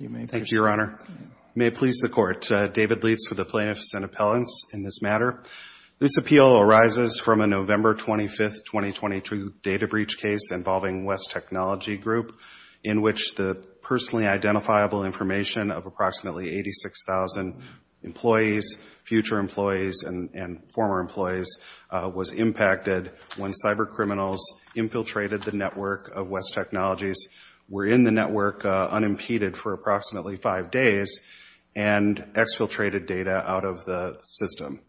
Thank you, Your Honor. May it please the Court, David Leitz for the plaintiffs and appellants in this matter. This appeal arises from a November 25th, 2022 data breach case involving West Technology Group in which the personally identifiable information of approximately 86,000 employees, future employees, and former employees was impacted when cybercriminals infiltrated the network of West Technologies, were in the network unimpeded for approximately five days, and exfiltrated data out of the system.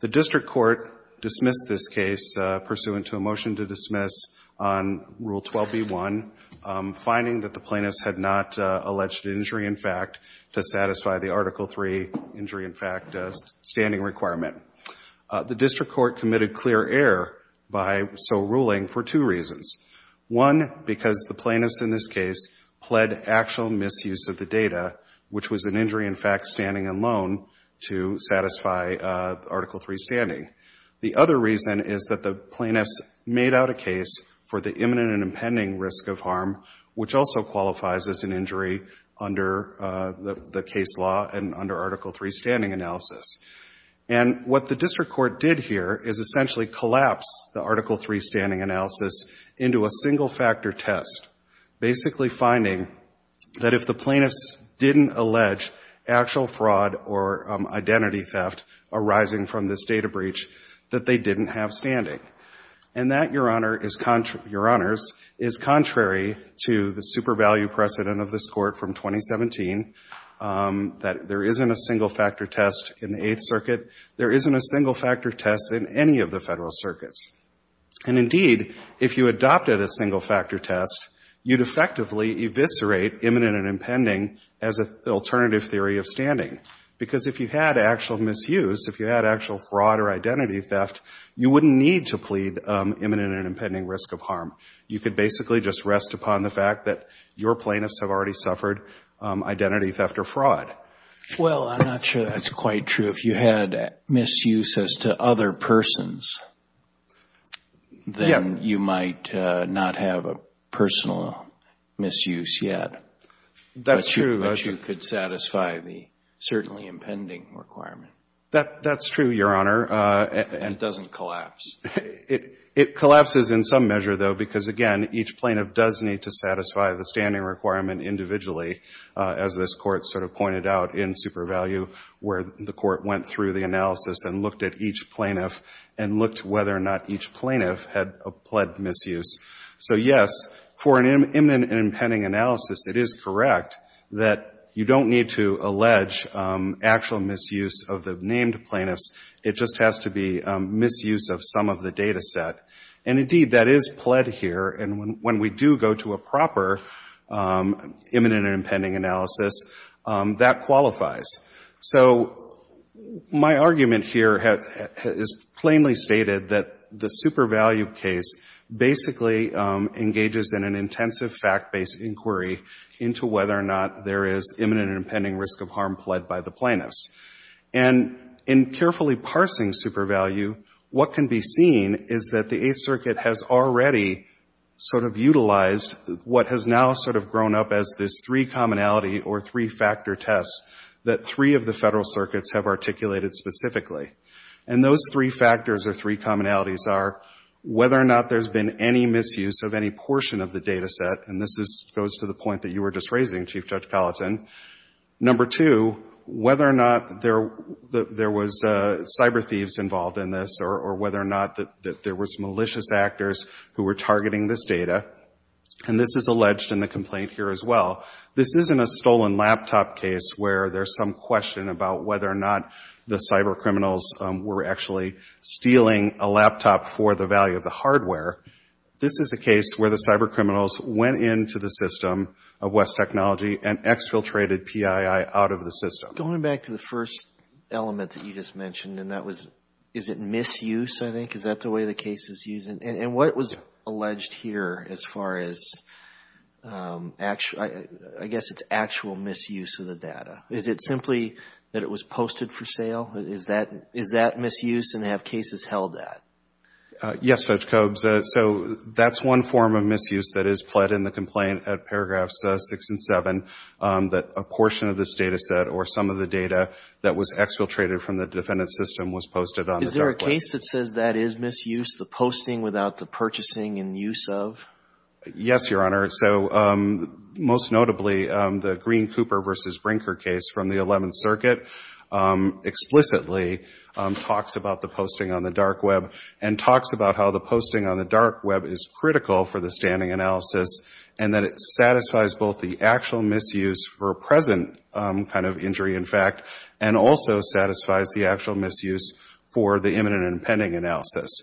The district court dismissed this case pursuant to a motion to dismiss on Rule 12b.1, finding that the plaintiffs had not alleged injury in fact to satisfy the Article 3 injury in fact standing requirement. The district court committed clear error by so two reasons. One, because the plaintiffs in this case pled actual misuse of the data, which was an injury in fact standing alone to satisfy Article 3 standing. The other reason is that the plaintiffs made out a case for the imminent and impending risk of harm, which also qualifies as an injury under the case law and under Article 3 standing analysis. And what the district court did here is essentially collapse the Article 3 standing analysis into a single-factor test, basically finding that if the plaintiffs didn't allege actual fraud or identity theft arising from this data breach, that they didn't have standing. And that, Your Honors, is contrary to the super-value precedent of this court from 2017, that there isn't a single-factor test in the Eighth Circuit. There isn't a single-factor test in any of the Federal Circuits. And indeed, if you adopted a single-factor test, you'd effectively eviscerate imminent and impending as an alternative theory of standing. Because if you had actual misuse, if you had actual fraud or identity theft, you wouldn't need to plead imminent and impending risk of harm. You could basically just rest upon the fact that your plaintiffs have already suffered identity theft or fraud. Well, I'm not sure that's quite true. If you had misuse as to other persons, then you might not have a personal misuse yet. That's true. But you could satisfy the certainly impending requirement. That's true, Your Honor. And it doesn't collapse. It collapses in some measure, though, because, again, each plaintiff does need to satisfy the standing requirement individually, as this Court sort of pointed out in Super Value, where the Court went through the analysis and looked at each plaintiff and looked whether or not each plaintiff had a pled misuse. So, yes, for an imminent and impending analysis, it is correct that you don't need to allege actual misuse of the named plaintiffs. It just has to be misuse of some of the data set. And, indeed, that is pled here. And when we do go to a proper imminent and impending analysis, that qualifies. So my argument here is plainly stated that the Super Value case basically engages in an intensive fact-based inquiry into whether or not there is imminent and impending risk of harm pled by the plaintiffs. And in carefully parsing Super Value, what can be seen is that the Eighth Circuit has already sort of utilized what has now sort of grown up as this three-commonality or three-factor test that three of the federal circuits have articulated specifically. And those three factors or three commonalities are whether or not there's been any misuse of any portion of the data set, and this goes to the point that you were just raising, Chief Judge Colleton. Number two, whether or not there was cyber thieves involved in this or whether or not there was malicious actors who were targeting this data. And this is alleged in the complaint here as well. This isn't a stolen laptop case where there's some question about whether or not the cyber criminals were actually stealing a laptop for the value of the hardware. This is a case where the cyber criminals went into the system of West Technology and exfiltrated PII out of the system. Going back to the first element that you just mentioned, and that was, is it misuse, I think? Is that the way the case is used? And what was alleged here as far as, I guess it's actual misuse of the data. Is it simply that it was posted for sale? Is that misuse and have cases held that? Yes, Judge Cobes. So that's one form of misuse that is pled in the complaint at paragraphs six and seven, that a portion of this data set or some of the data that was exfiltrated from the defendant's system was posted on the dark web. Is there a case that says that is misuse, the posting without the purchasing and use of? Yes, Your Honor. So most notably, the Green Cooper versus Brinker case from the 11th Circuit explicitly talks about the posting on the dark web and talks about how the posting on the dark web is critical for the standing analysis and that it satisfies both the actual misuse for present kind of injury, in fact, and also satisfies the actual misuse for the imminent and pending analysis.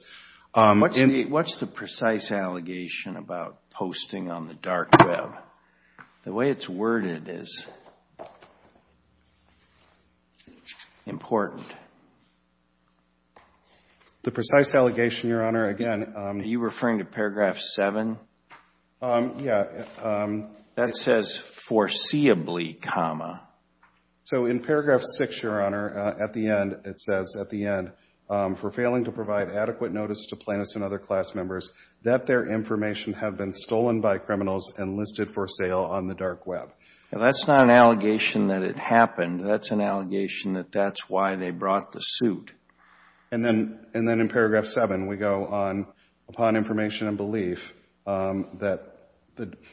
What's the precise allegation about posting on the dark web? The way it's worded is important. The precise allegation, Your Honor, again. Are you referring to paragraph seven? Yeah. That says foreseeably comma. So in paragraph six, Your Honor, at the end, it says, at the end, for failing to provide adequate notice to plaintiffs and other class members that their information have been stolen by criminals and listed for sale on the dark web. That's not an allegation that it happened. That's an allegation that that's why they brought the suit. And then in paragraph seven, we go on, upon information and belief that,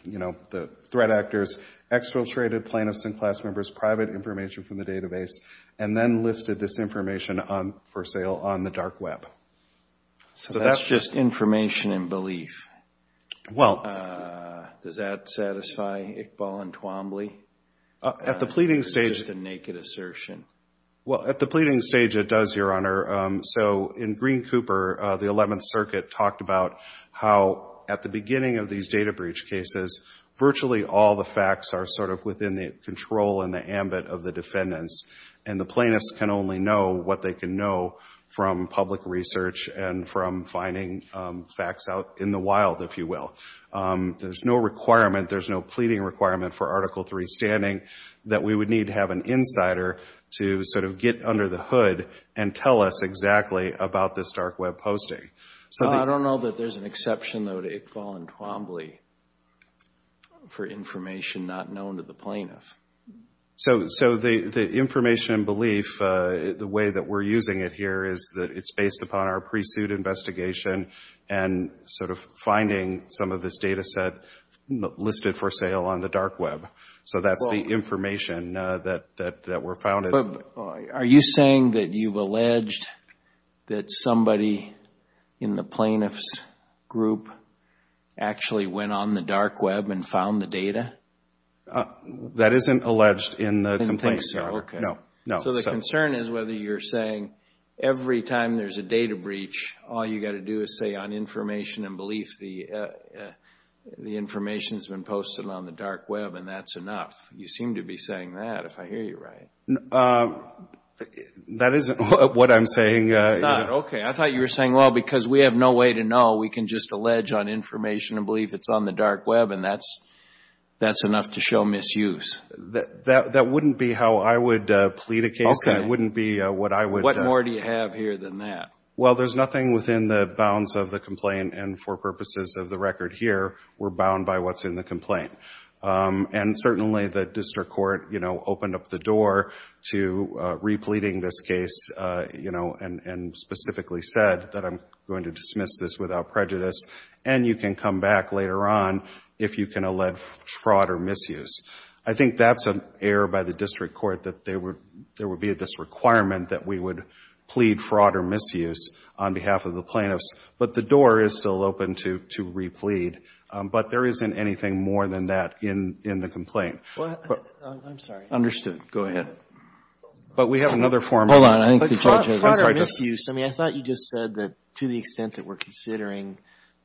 you know, the threat actors exfiltrated plaintiffs and class members' private information from the database and then listed this information for sale on the dark web. So that's just information and belief. Well, does that satisfy Iqbal and Twombly? At the pleading stage, it's just a naked assertion. Well, at the pleading stage, it does, Your Honor. So in Green Cooper, the 11th Circuit talked about how at the beginning of these data breach cases, virtually all the facts are sort of within the control and the ambit of the defendants. And the plaintiffs can only know what they can know from public research and from finding facts out in the wild, if you will. There's no requirement, there's no pleading requirement for Article III standing that we would need to have an insider to sort of get under the hood and tell us exactly about this dark web posting. So I don't know that there's an exception, though, to Iqbal and Twombly for information not known to the plaintiff. So the information and belief, the way that we're using it here is that it's based upon our pre-suit investigation and sort of finding some of this data set listed for sale on the dark web. So that's the information that we're found in. Are you saying that you've alleged that somebody in the plaintiff's group actually went on the dark web and found the data? No, that isn't alleged in the complaints. So the concern is whether you're saying every time there's a data breach, all you got to do is say on information and belief the information has been posted on the dark web and that's enough. You seem to be saying that, if I hear you right. That isn't what I'm saying. Okay, I thought you were saying, well, because we have no way to know, we can just allege on information and belief it's on the dark web and that's enough to show misuse. That wouldn't be how I would plead a case. That wouldn't be what I would. What more do you have here than that? Well, there's nothing within the bounds of the complaint and for purposes of the record here, we're bound by what's in the complaint. And certainly the district court, you know, opened up the door to re-pleading this case, you know, and specifically said that I'm going dismiss this without prejudice and you can come back later on if you can allege fraud or misuse. I think that's an error by the district court that there would be this requirement that we would plead fraud or misuse on behalf of the plaintiffs. But the door is still open to re-plead. But there isn't anything more than that in the complaint. Well, I'm sorry. Understood. Go ahead. But we have another form. Hold on. Fraud or misuse, I mean, I thought you just said that to the extent that we're considering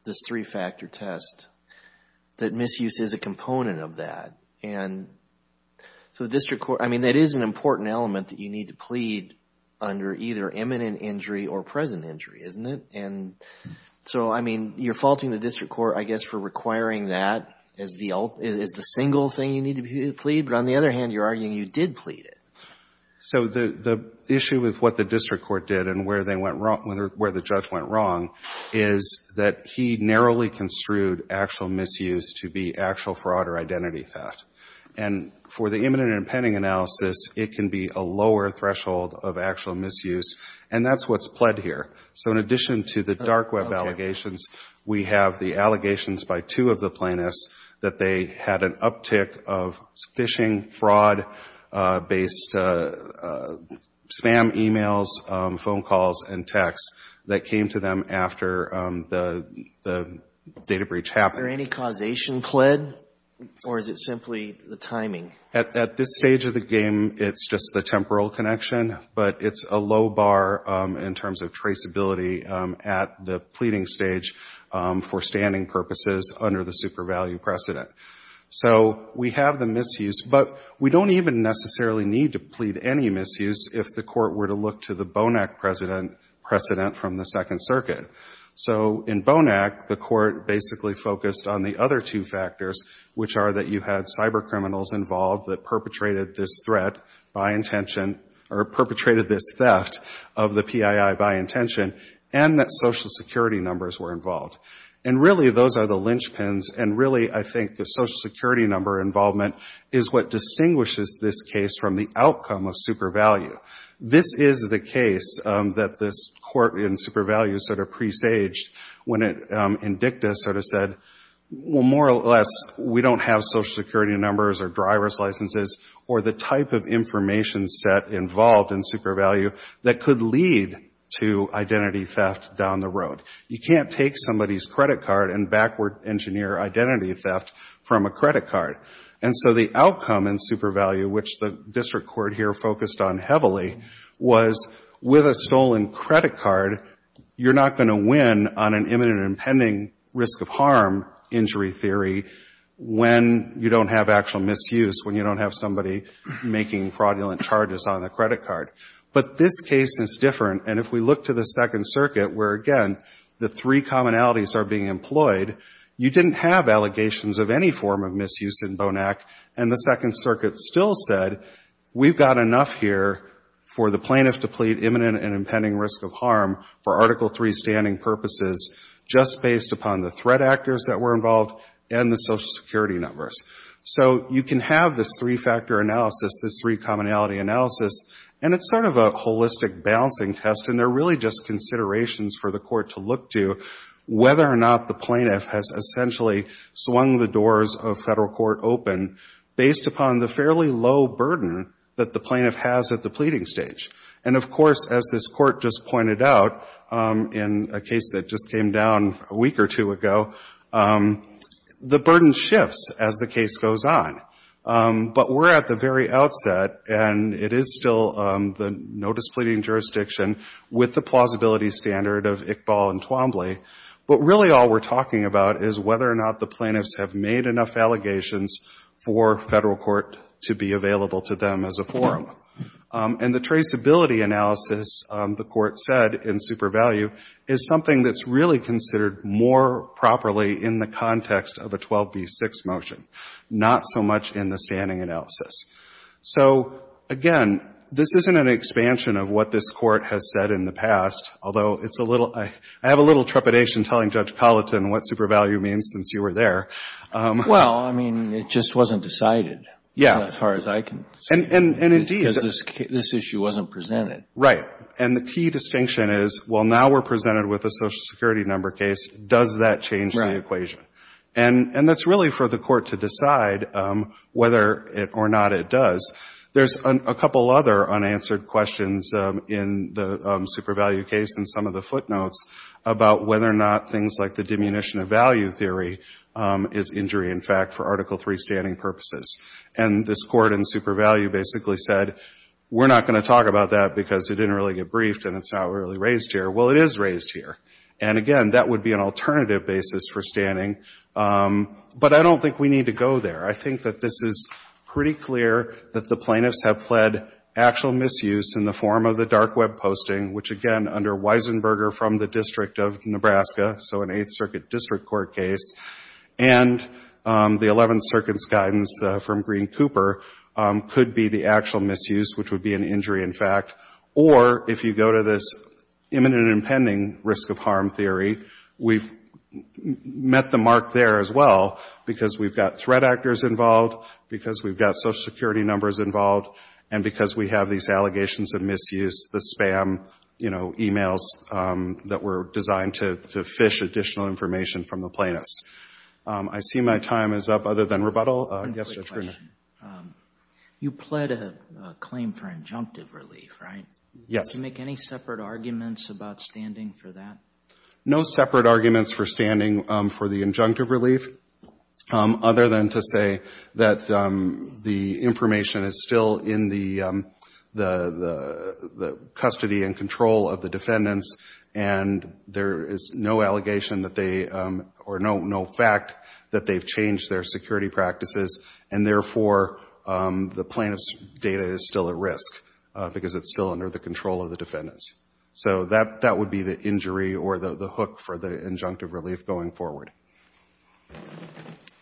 this three-factor test, that misuse is a component of that. And so the district court, I mean, that is an important element that you need to plead under either imminent injury or present injury, isn't it? And so, I mean, you're faulting the district court, I guess, for requiring that as the single thing you need to plead. But on the other hand, you're arguing you did plead it. So the issue with what the district court did and where the judge went wrong is that he narrowly construed actual misuse to be actual fraud or identity theft. And for the imminent and pending analysis, it can be a lower threshold of actual misuse. And that's what's pled here. So in addition to the dark web allegations, we have the allegations by two of the plaintiffs that they had an uptick of phishing, fraud-based spam emails, phone calls, and texts that came to them after the data breach happened. Is there any causation pled? Or is it simply the timing? At this stage of the game, it's just the temporal connection. But it's a low bar in terms of traceability at the pleading stage for standing purposes under the super value precedent. So we have the misuse. But we don't even necessarily need to plead any misuse if the court were to look to the Bonac precedent from the Second Circuit. So in Bonac, the court basically focused on the other two factors, which are that you had cyber criminals involved that perpetrated this threat by intention, or perpetrated this theft of the PII by intention, and that Social Security numbers were involved. And really, those are the linchpins. And really, I think the Social Security number involvement is what distinguishes this case from the outcome of super value. This is the case that this court in super value sort of presaged when it, in dicta, sort of said, well, more or less, we don't have Social Security numbers or driver's licenses or the type of information set involved in super value that could lead to identity theft down the road. You can't take somebody's credit card and backward engineer identity theft from a credit card. And so the outcome in super value, which the district court here focused on heavily, was with a stolen credit card, you're not going to win on an imminent and pending risk of harm injury theory when you don't have actual misuse, when you don't have somebody making fraudulent charges on the credit card. But this case is different. And if we look to the Second Circuit, where, again, the three commonalities are being employed, you didn't have allegations of any form of misuse in BONAC. And the Second Circuit still said, we've got enough here for the plaintiff to plead imminent and impending risk of harm for Article III standing purposes, just based upon the threat actors that were involved and the Social Security numbers. So you can have this three-factor analysis, this three commonality analysis, and it's a holistic balancing test. And they're really just considerations for the court to look to whether or not the plaintiff has essentially swung the doors of federal court open based upon the fairly low burden that the plaintiff has at the pleading stage. And of course, as this court just pointed out in a case that just came down a week or two ago, the burden shifts as the case goes on. But we're at the very outset, and it is still the no-displeasing jurisdiction with the plausibility standard of Iqbal and Twombly. But really, all we're talking about is whether or not the plaintiffs have made enough allegations for federal court to be available to them as a forum. And the traceability analysis, the court said in super value, is something that's really more properly in the context of a 12B6 motion, not so much in the standing analysis. So again, this isn't an expansion of what this court has said in the past, although it's a little, I have a little trepidation telling Judge Colleton what super value means since you were there. Well, I mean, it just wasn't decided as far as I can see, because this issue wasn't presented. Right. And the key distinction is, well, now we're presented with a social security number case, does that change the equation? And that's really for the court to decide whether or not it does. There's a couple other unanswered questions in the super value case and some of the footnotes about whether or not things like the diminution of value theory is injury, in fact, for Article III standing purposes. And this court in super value basically said, we're not going to talk about that because it didn't really get briefed and it's not really raised here. Well, it is raised here. And again, that would be an alternative basis for standing. But I don't think we need to go there. I think that this is pretty clear that the plaintiffs have pled actual misuse in the form of the dark web posting, which again, under Weisenberger from the District of Nebraska, so an Eighth Circuit District Court case, and the Eleventh Circuit's guidance from Green Cooper, could be the actual misuse, which would be an injury, in fact. Or if you go to this imminent and impending risk of harm theory, we've met the mark there as well because we've got threat actors involved, because we've got social security numbers involved, and because we have these allegations of misuse, the spam, you know, emails that were designed to fish additional information from the plaintiffs. I see my time is up other than rebuttal. Yes, Judge Bruner? You pled a claim for injunctive relief, right? Yes. Did you make any separate arguments about standing for that? No separate arguments for standing for the injunctive relief, other than to say that the information is still in the custody and control of the defendants, and there is no allegation that they, or no fact that they've changed their security practices, and therefore the plaintiff's data is still at risk because it's still under the control of the defendants. So that would be the injury or the hook for the injunctive relief going forward.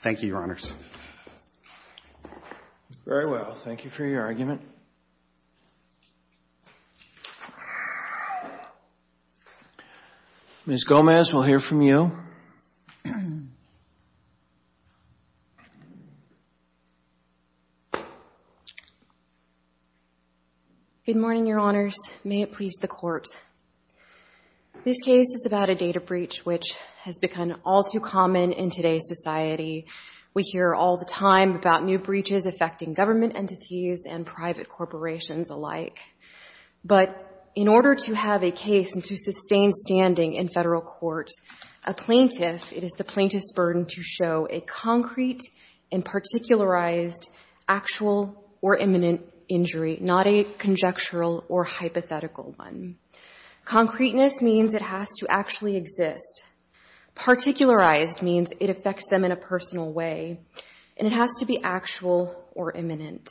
Thank you, Your Honors. Very well. Thank you for your argument. Ms. Gomez, we'll hear from you. Good morning, Your Honors. May it please the Court. This case is about a data breach which has become all too common in today's society. We hear all the time about new breaches affecting government entities and private corporations alike. But in order to have a case and to sustain standing in federal court, a plaintiff, it is the plaintiff's burden to show a concrete and particularized actual or imminent injury, not a conjectural or hypothetical one. Concreteness means it has to actually exist. Particularized means it affects them in a personal way, and it has to be actual or imminent.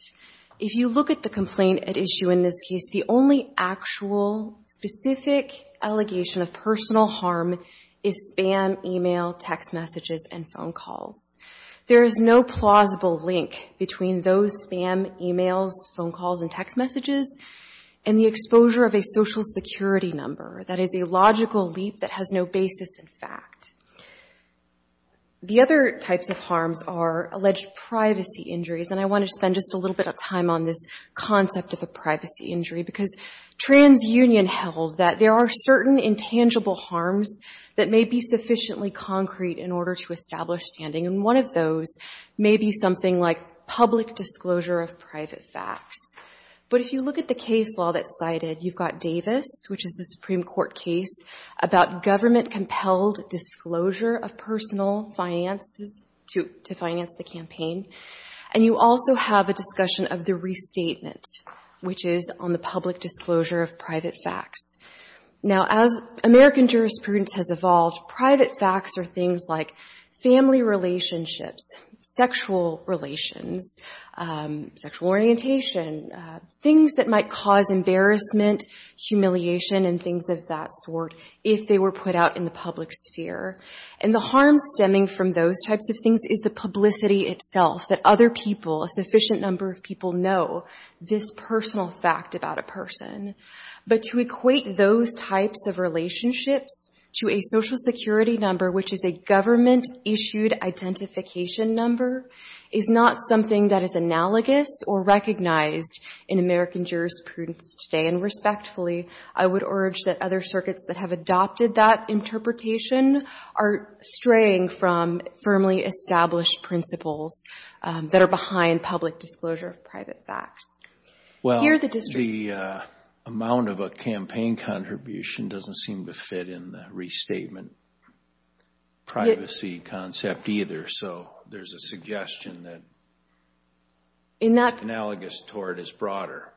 If you look at the complaint at issue in this case, the only actual, specific allegation of personal harm is spam, email, text messages, and phone calls. There is no plausible link between those spam, emails, phone calls, and text messages, and the exposure of a social security number. That is a logical leap that has no basis in fact. The other types of harms are alleged privacy injuries, and I want to spend just a little bit of time on this concept of a privacy injury because TransUnion held that there are certain intangible harms that may be sufficiently concrete in order to establish standing, and one of those may be something like public disclosure of private facts. But if you look at the case law that's cited, you've got Davis, which is a Supreme Court case about government-compelled disclosure of personal finances to finance the campaign, and you also have a discussion of the restatement, which is on the public disclosure of private facts. Now, as American jurisprudence has evolved, private facts are things like family relationships, sexual relations, sexual orientation, things that might cause embarrassment, humiliation, and things of that sort if they were put out in the public sphere, and the harm stemming from those types of things is the publicity itself, that other people, a sufficient number of people know this personal fact about a person. But to equate those types of relationships to a social security number, which is a government-issued identification number, is not something that is analogous or recognized in American jurisprudence today, and respectfully, I would urge that other circuits that have adopted that interpretation are straying from firmly established principles that are behind public disclosure of private facts. Here, the district's lawyer says it's a public disclosure of private facts. Well, the amount of a campaign contribution doesn't seem to fit in the restatement privacy concept either, so there's a suggestion that analogous toward is broader.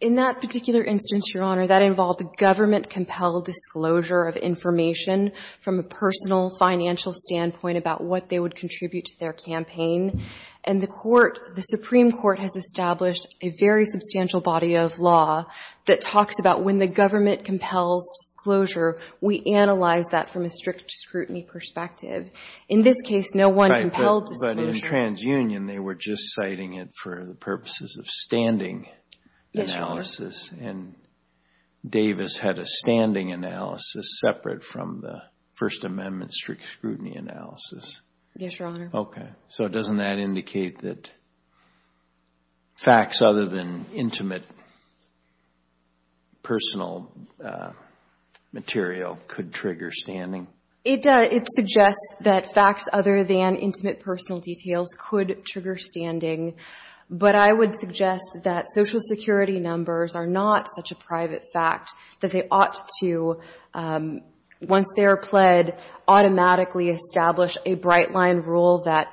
In that particular instance, Your Honor, that involved a government-compelled disclosure of information from a personal financial standpoint about what they would contribute to their campaign, and the Court, the Supreme Court has established a very substantial body of law that talks about when the government compels disclosure, we analyze that from a strict scrutiny perspective. In this case, no one compelled disclosure. But in TransUnion, they were just citing it for the purposes of standing analysis, and Davis had a standing analysis separate from the First Amendment strict scrutiny analysis. Yes, Your Honor. Okay. So doesn't that indicate that facts other than intimate personal material could trigger standing? It does. It suggests that facts other than intimate personal details could trigger standing, but I would suggest that Social Security numbers are not such a private fact that they ought to, once they are pled, automatically establish a bright-line rule that,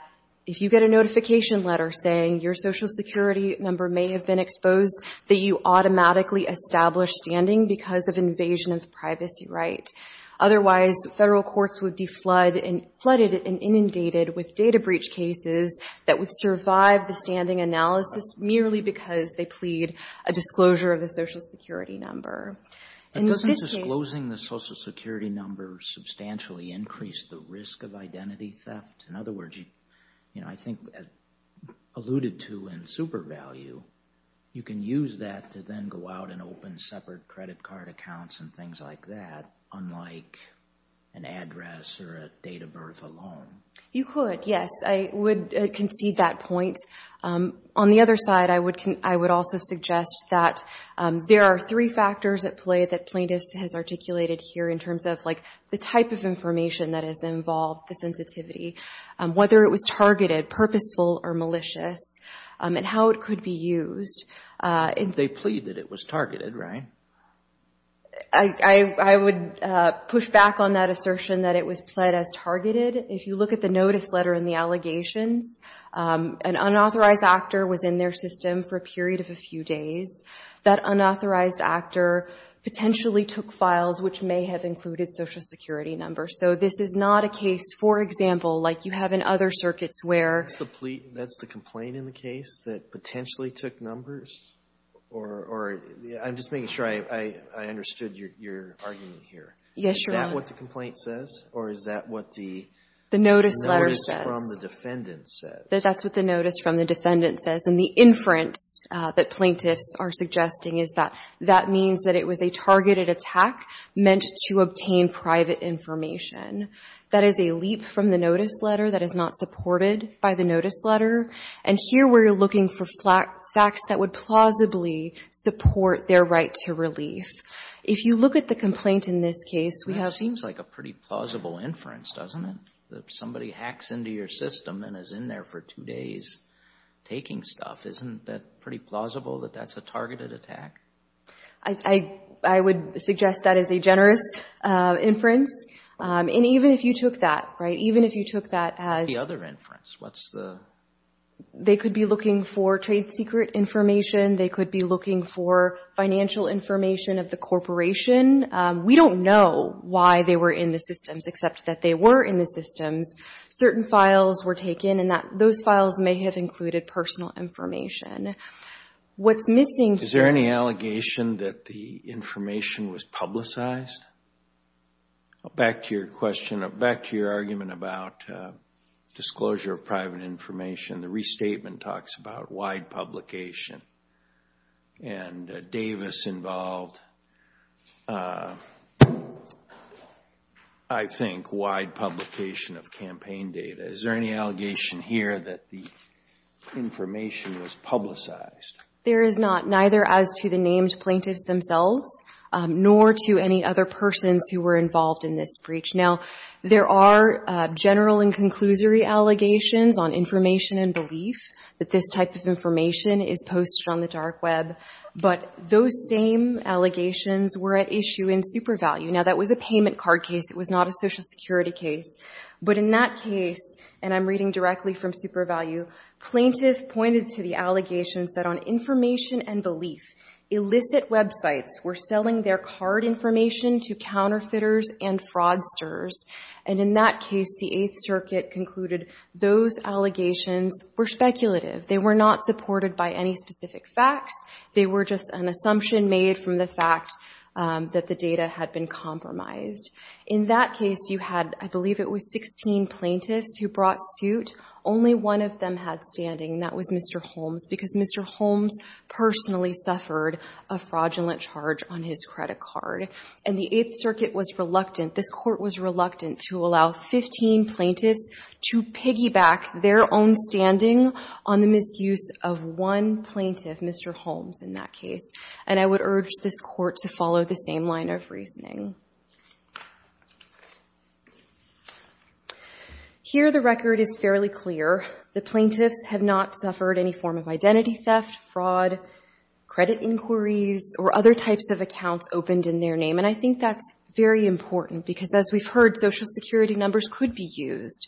if you get a notification letter saying your Social Security number may have been exposed, that you automatically establish standing because of invasion of privacy right. Otherwise, federal courts would be flooded and inundated with data breach cases that would survive the standing analysis merely because they plead a disclosure of the Social Security number. And doesn't disclosing the Social Security number substantially increase the risk of identity theft? In other words, you know, I think alluded to in super value, you can use that to then go out and open separate credit card accounts and things like that, unlike an address or a date of birth alone. You could, yes. I would concede that point. On the other side, I would also suggest that there are three factors at play that plaintiffs has articulated here in terms of, like, the type of information that is involved, the sensitivity, whether it was targeted, purposeful or malicious, and how it could be used. They plead that it was targeted, right? I would push back on that assertion that it was pled as targeted. If you look at the notice letter and the allegations, an unauthorized actor was in their system for a period of a few days. That unauthorized actor potentially took files which may have included Social Security numbers. So this is not a case, for example, like you have in other circuits where That's the complaint in the case that potentially took numbers? Or I'm just making sure I understood your argument here. Yes, Your Honor. Is that what the complaint says? Or is that what the notice from the defendant says? That's what the notice from the defendant says. And the inference that plaintiffs are suggesting is that that means that it was a targeted attack meant to obtain private information. That is a leap from the notice letter that is not supported by the notice letter. And here we're looking for facts that would plausibly support their right to relief. If you look at the complaint in this case, we have That seems like a pretty plausible inference, doesn't it? Somebody hacks into your system and is in there for two days taking stuff. Isn't that pretty plausible that that's a targeted attack? I would suggest that as a generous inference. And even if you took that, right, even if you took that as The other inference, what's the They could be looking for trade secret information. They could be looking for financial information of the corporation. We don't know why they were in the systems, except that they were in the systems. Certain files were taken and those files may have included personal information. What's missing here Is there any allegation that the information was publicized? Back to your question, back to your argument about disclosure of private information, the restatement talks about wide publication. And Davis involved, I think, wide publication of campaign data. Is there any allegation here that the information was publicized? There is not, neither as to the named plaintiffs themselves, nor to any other persons who were involved in this breach. Now, there are general and conclusory allegations on information and belief that this type of information is posted on the dark web. But those same allegations were at issue in SuperValue. Now, that was a payment card case. It was not a Social Security case. But in that case, and I'm reading directly from SuperValue, plaintiff pointed to the allegations that on information and belief, illicit websites were selling their card information to counterfeiters and fraudsters. And in that case, the Eighth Circuit concluded those allegations were speculative. They were not supported by any specific facts. They were just an assumption made from the fact that the data had been compromised. In that case, you had, I believe it was 16 plaintiffs who brought suit. Only one of them had standing. That was Mr. Holmes, because Mr. Holmes personally suffered a fraudulent charge on his credit card. And the Eighth Circuit was reluctant. This court was reluctant to allow 15 plaintiffs to piggyback their own standing on the misuse of one plaintiff, Mr. Holmes, in that case. And I would urge this court to follow the same line of reasoning. Here, the record is fairly clear. The plaintiffs have not suffered any form of identity theft, fraud, credit inquiries, or other types of accounts opened in their name. And I think that's very important, because as we've heard, Social Security numbers could be used.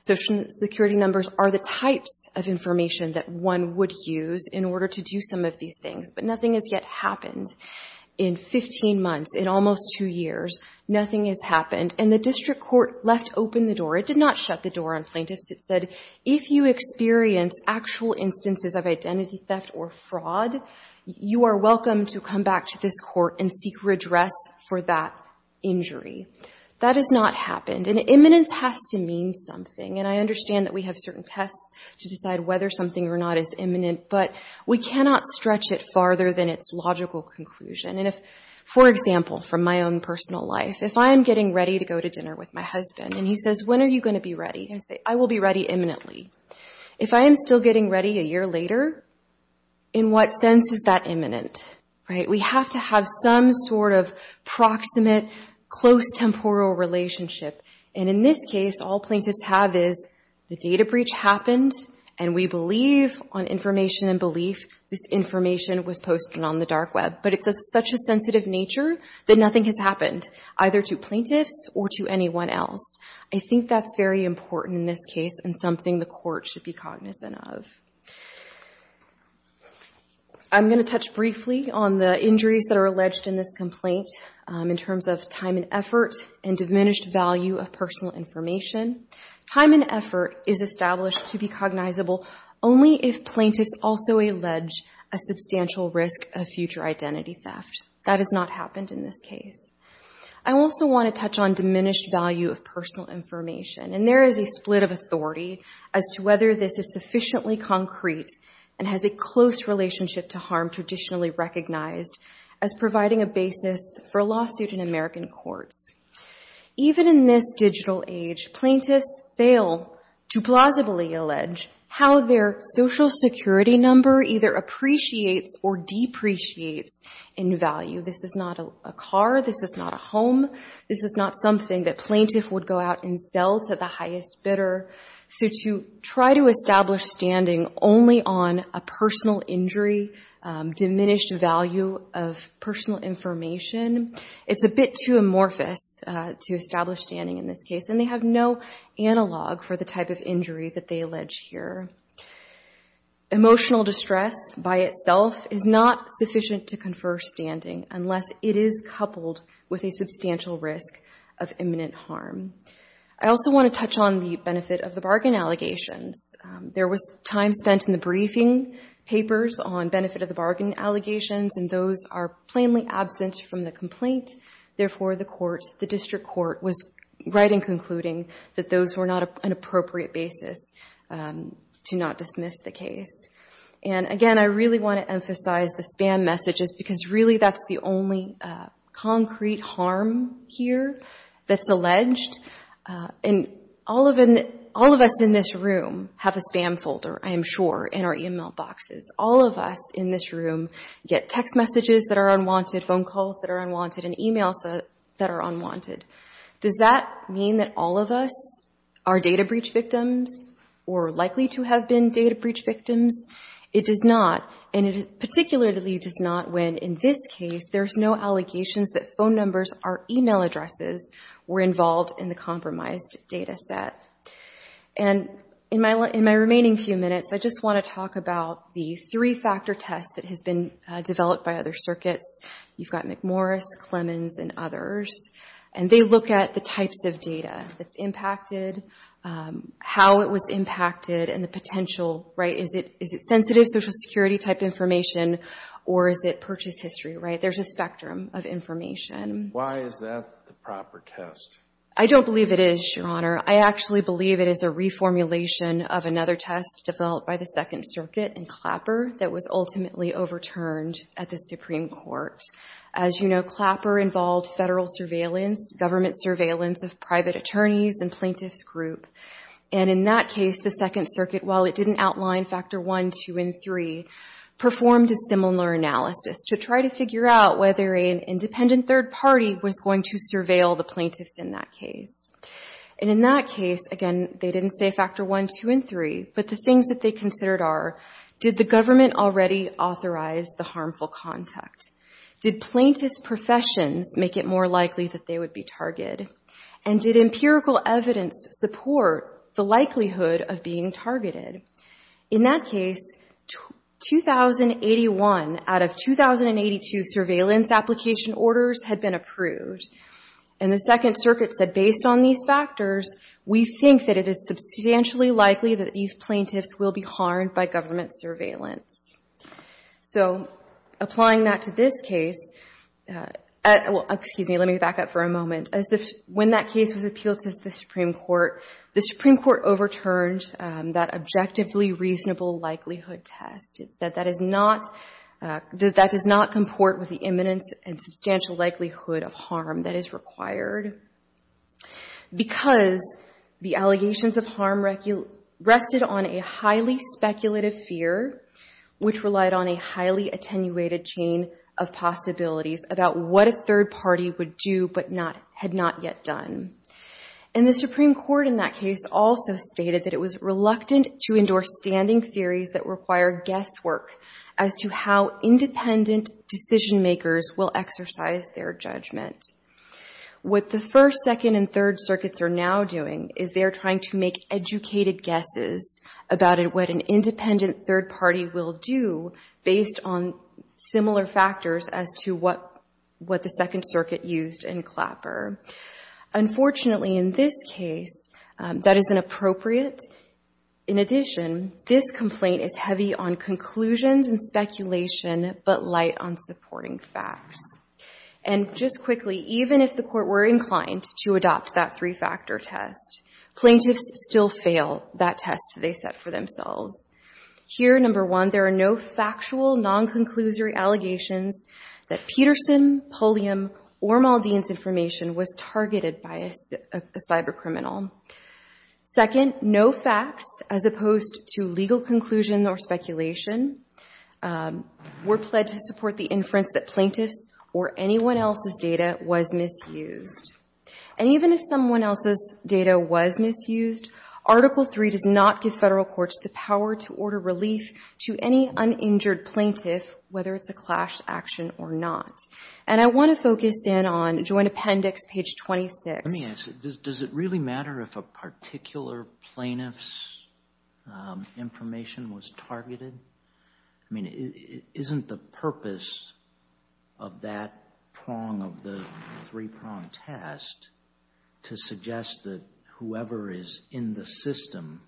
Social Security numbers are the types of information that one would use in order to do some of these things. But nothing has yet happened. In 15 months, in almost two years, nothing has happened. And the district court left open the door. It did not shut the door on plaintiffs. It said, if you experience actual instances of identity theft or fraud, you are welcome to come back to this court and seek redress for that injury. That has not happened. And imminence has to mean something. And I understand that we have certain tests to decide whether something or not is imminent. But we cannot stretch it farther than its logical conclusion. And if, for example, from my own personal life, if I am getting ready to go to dinner with my husband, and he says, when are you going to be ready? I say, I will be ready imminently. If I am still getting ready a year later, in what sense is that imminent? We have to have some sort of proximate, close, temporal relationship. And in this case, all plaintiffs have is, the data breach happened. And we believe on information and belief, this information was posted on the dark web. But it's of such a sensitive nature that nothing has happened, either to plaintiffs or to anyone else. I think that's very important in this case and something the court should be cognizant of. I'm going to touch briefly on the injuries that are alleged in this complaint, in terms of time and effort, and diminished value of personal information. Time and effort is established to be cognizable only if plaintiffs also allege a substantial risk of future identity theft. That has not happened in this case. I also want to touch on diminished value of personal information. And there is a split of authority as to whether this is sufficiently concrete and has a close relationship to harm traditionally recognized as providing a basis for a lawsuit in American courts. Even in this digital age, plaintiffs fail to plausibly allege how their social security number either appreciates or depreciates in value. This is not a car. This is not a home. This is not something that plaintiff would go out and sell to the highest bidder. So to try to establish standing only on a personal injury, diminished value of personal information, it's a bit too amorphous to establish standing in this case. And they have no analog for the type of injury that they allege here. Emotional distress by itself is not sufficient to confer standing unless it is coupled with a substantial risk of imminent harm. I also want to touch on the benefit of the bargain allegations. There was time spent in the briefing papers on benefit of the bargain allegations. And those are plainly absent from the complaint. Therefore, the district court was right in concluding that those were not an appropriate basis to not dismiss the case. And again, I really want to emphasize the spam messages because really that's the only concrete harm here that's alleged. And all of us in this room have a spam folder, I am sure, in our email boxes. All of us in this room get text messages that are unwanted, phone calls that are unwanted, and emails that are unwanted. Does that mean that all of us are data breach victims or likely to have been data breach victims? It does not. And it particularly does not when, in this case, there's no allegations that phone numbers or email addresses were involved in the compromised data set. And in my remaining few minutes, I just want to talk about the three-factor test that has been developed by other circuits. You've got McMorris, Clemens, and others. And they look at the types of data that's impacted, how it was impacted, and the potential, right? Is it sensitive Social Security-type information, or is it purchase history, right? There's a spectrum of information. Why is that the proper test? I don't believe it is, Your Honor. I actually believe it is a reformulation of another test developed by the Second Circuit in Clapper that was ultimately overturned at the Supreme Court. As you know, Clapper involved Federal surveillance, government surveillance of private attorneys and plaintiffs' group. And in that case, the Second Circuit, while it didn't outline Factor 1, 2, and 3, performed a similar analysis to try to figure out whether an independent third party was going to surveil the plaintiffs in that case. And in that case, again, they didn't say Factor 1, 2, and 3, but the things that they considered are, did the government already authorize the harmful contact? Did plaintiff's professions make it more likely that they would be targeted? And did empirical evidence support the likelihood of being targeted? In that case, 2081 out of 2082 surveillance application orders had been approved. And the Second Circuit said, based on these factors, we think that it is substantially likely that these plaintiffs will be harmed by government surveillance. So, applying that to this case, well, excuse me, let me back up for a moment. When that case was appealed to the Supreme Court, the Supreme Court overturned that objectively reasonable likelihood test. It said that is not, that does not comport with the imminence and substantial likelihood of harm that is required because the allegations of harm rested on a highly speculative fear, which relied on a highly attenuated chain of possibilities about what a third party had not yet done. And the Supreme Court in that case also stated that it was reluctant to endorse standing theories that require guesswork as to how independent decision makers will exercise their judgment. What the First, Second, and Third Circuits are now doing is they're trying to make educated guesses about what an independent third party will do based on similar factors as to what the Second Circuit used in Clapper. Unfortunately, in this case, that isn't appropriate. In addition, this complaint is heavy on conclusions and speculation but light on supporting facts. And just quickly, even if the Court were inclined to adopt that three-factor test, plaintiffs still fail that test they set for themselves. Here, number one, there are no factual, non-conclusory allegations that Peterson, Pulliam, or Maldine's information was targeted by a cybercriminal. Second, no facts, as opposed to legal conclusion or speculation, were pledged to support the inference that plaintiffs' or anyone else's data was misused. And even if someone else's data was misused, Article III does not give federal courts the power to order relief to any uninjured plaintiff, whether it's a clash action or not. And I want to focus in on Joint Appendix, page 26. Let me ask you, does it really matter if a particular plaintiff's information was targeted? I mean, isn't the purpose of that prong of the three-prong test to suggest that whoever is in the system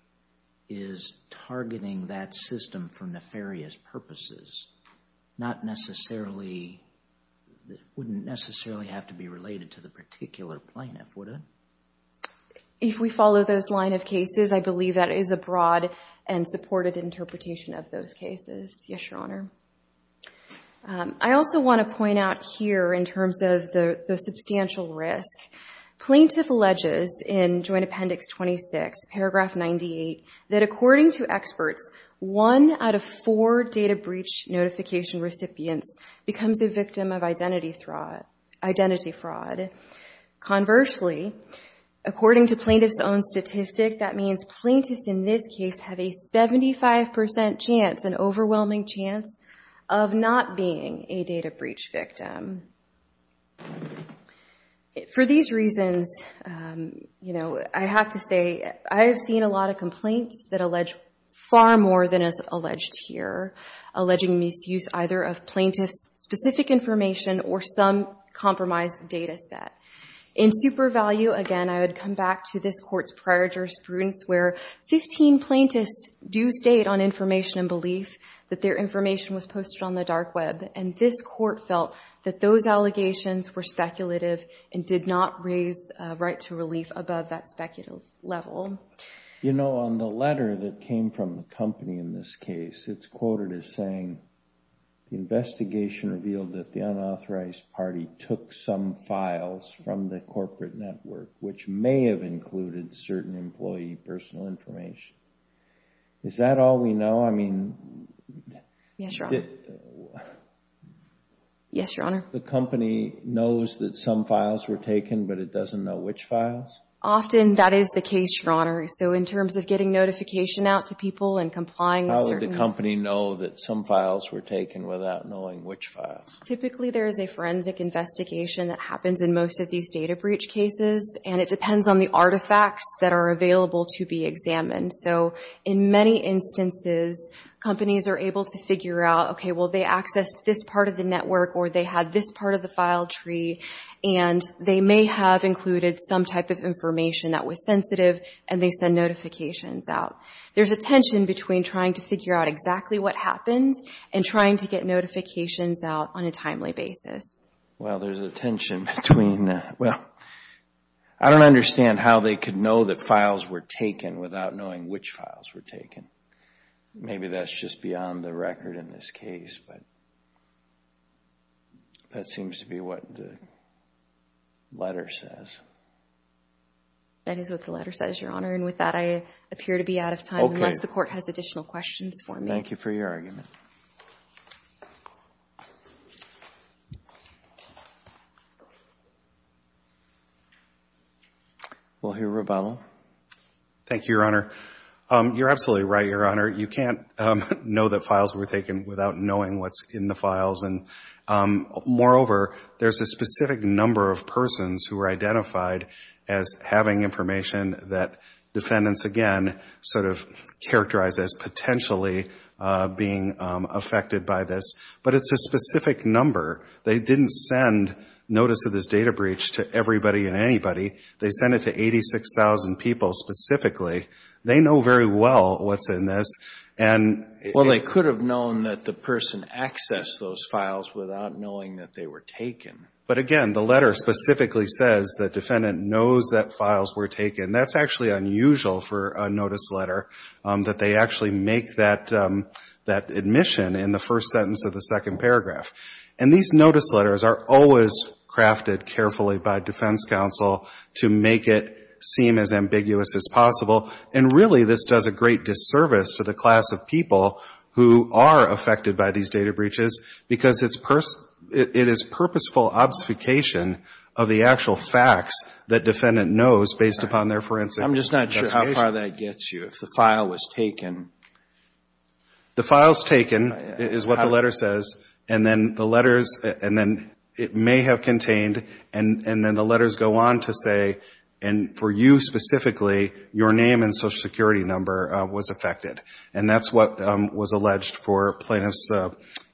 is targeting that system for nefarious purposes? Not necessarily, wouldn't necessarily have to be related to the particular plaintiff, would it? If we follow those line of cases, I believe that is a broad and supported interpretation of those cases. Yes, Your Honor. I also want to point out here, in terms of the substantial risk, plaintiff alleges in Joint Appendix 26, paragraph 98, that according to experts, one out of four data breach notification recipients becomes a victim of identity fraud. Conversely, according to plaintiff's own statistic, that means plaintiffs in this case have a 75% chance, an overwhelming chance, of not being a data breach victim. For these reasons, I have to say, I have seen a lot of complaints that allege far more than is alleged here, alleging misuse either of plaintiff's specific information or some compromised data set. In super value, again, I would come back to this Court's prior jurisprudence, where 15 plaintiffs do state on information and belief that their information was posted on the dark web. This Court felt that those allegations were speculative and did not raise right to relief above that speculative level. On the letter that came from the company in this case, it is quoted as saying, the investigation revealed that the unauthorized party took some files from the corporate network, which may have included certain employee personal information. Is that all we know? Yes, Your Honor. Yes, Your Honor. The company knows that some files were taken, but it doesn't know which files? Often, that is the case, Your Honor. So, in terms of getting notification out to people and complying with certain— How would the company know that some files were taken without knowing which files? Typically, there is a forensic investigation that happens in most of these data breach cases, and it depends on the artifacts that are available to be examined. So, in many instances, companies are able to figure out, okay, well, they accessed this part of the network, or they had this part of the file tree, and they may have included some type of information that was sensitive, and they send notifications out. There's a tension between trying to figure out exactly what happened and trying to get notifications out on a timely basis. Well, there's a tension between—well, I don't understand how they could know that without knowing which files were taken. Maybe that's just beyond the record in this case, but that seems to be what the letter says. That is what the letter says, Your Honor, and with that, I appear to be out of time unless the court has additional questions for me. Thank you for your argument. We'll hear a rebuttal. Thank you, Your Honor. You're absolutely right, Your Honor. You can't know that files were taken without knowing what's in the files. Moreover, there's a specific number of persons who are identified as having information that defendants, again, sort of characterize as potentially being affected by this, but it's a specific number. They didn't send notice of this data breach to everybody and anybody. They sent it to 86,000 people specifically. They know very well what's in this, and— Well, they could have known that the person accessed those files without knowing that they were taken. But again, the letter specifically says that defendant knows that files were taken. That's actually unusual for a notice letter, that they actually make that admission in the first sentence of the second paragraph. And these notice letters are always crafted carefully by defense counsel to make it seem as ambiguous as possible. And really, this does a great disservice to the class of people who are affected by these data breaches because it is purposeful obfuscation of the actual facts that defendant knows based upon their forensic— I'm just not sure how far that gets you. If the file was taken— The file's taken, is what the letter says, and then the letters, and then it may have contained, and then the letters go on to say, and for you specifically, your name and Social Security number was affected. And that's what was alleged for Plaintiffs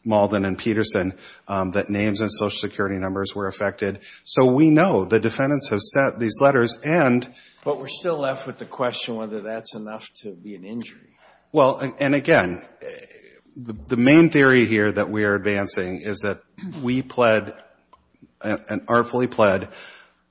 Malden and Peterson, that names and Social Security numbers were affected. So we know the defendants have sent these letters and— But we're still left with the question whether that's enough to be an injury. Well, and again, the main theory here that we are advancing is that we pled, and artfully pled,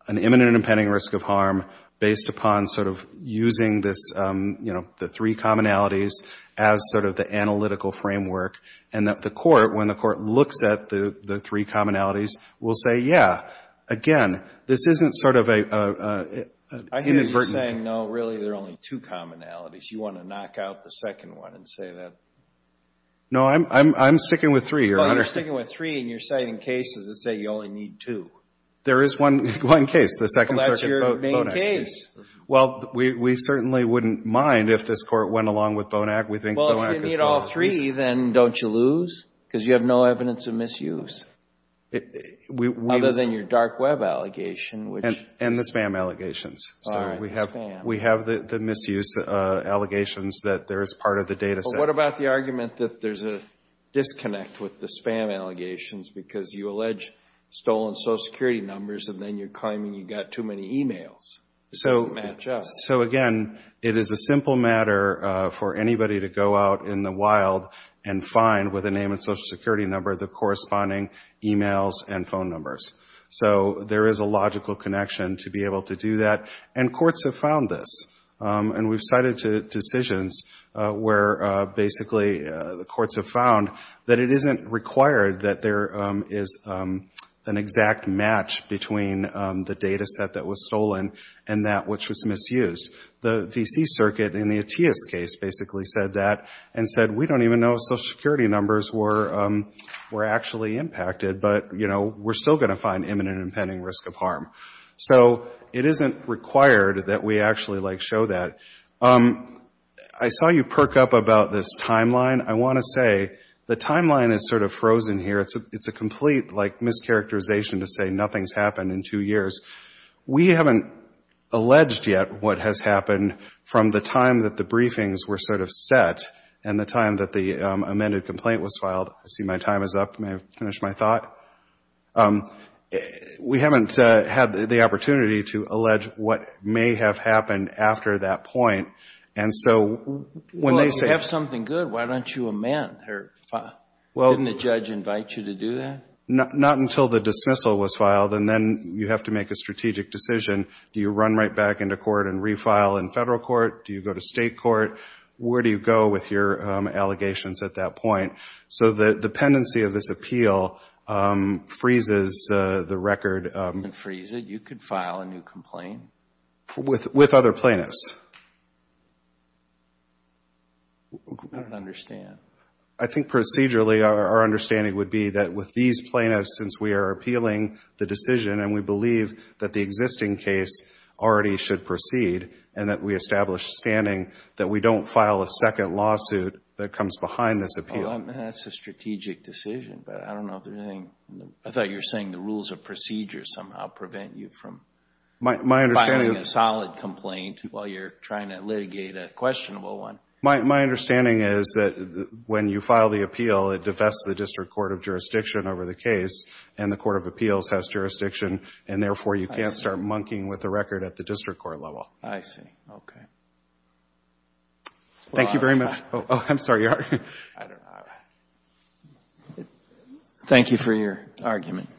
an imminent and impending risk of harm based upon sort of using this, you know, the three commonalities as sort of the analytical framework. And that the Court, when the Court looks at the three commonalities, will say, yeah, again, this isn't sort of a inadvertent— I hear you saying, no, really, there are only two commonalities. You want to knock out the second one and say that— No, I'm sticking with three, Your Honor. Well, you're sticking with three, and you're citing cases that say you only need two. There is one case, the Second Circuit— Well, that's your main case. Well, we certainly wouldn't mind if this Court went along with Bonac. We think Bonac is— If you need all three, then don't you lose? Because you have no evidence of misuse. Other than your dark web allegation, which— And the spam allegations. We have the misuse allegations that there is part of the data set— But what about the argument that there's a disconnect with the spam allegations because you allege stolen Social Security numbers, and then you're claiming you got too many emails? It doesn't match up. So again, it is a simple matter for anybody to go out in the wild and find, with a name and Social Security number, the corresponding emails and phone numbers. So there is a logical connection to be able to do that, and courts have found this. And we've cited decisions where basically the courts have found that it isn't required that is an exact match between the data set that was stolen and that which was misused. The D.C. Circuit, in the Atiyah's case, basically said that and said, we don't even know if Social Security numbers were actually impacted, but we're still going to find imminent and impending risk of harm. So it isn't required that we actually show that. I saw you perk up about this timeline. I want to say the timeline is sort of frozen here. It's a complete, like, mischaracterization to say nothing's happened in two years. We haven't alleged yet what has happened from the time that the briefings were sort of set and the time that the amended complaint was filed. I see my time is up. May I finish my thought? We haven't had the opportunity to allege what may have happened after that point. And so when they say— Well, if you have something good, why don't you amend? Didn't the judge invite you to do that? Not until the dismissal was filed. And then you have to make a strategic decision. Do you run right back into court and refile in federal court? Do you go to state court? Where do you go with your allegations at that point? So the pendency of this appeal freezes the record. And freeze it? You could file a new complaint? With other plaintiffs. I don't understand. I think procedurally, our understanding would be that with these plaintiffs, since we are appealing the decision and we believe that the existing case already should proceed and that we establish standing, that we don't file a second lawsuit that comes behind this appeal. That's a strategic decision. But I don't know if there's anything— I thought you were saying the rules of procedure somehow prevent you from— My understanding— Filing a solid complaint while you're trying to litigate a questionable one. My understanding is that when you file the appeal, it divests the district court of jurisdiction over the case. And the court of appeals has jurisdiction. And therefore, you can't start monkeying with the record at the district court level. I see. Okay. Thank you very much. Oh, I'm sorry. Thank you for your argument.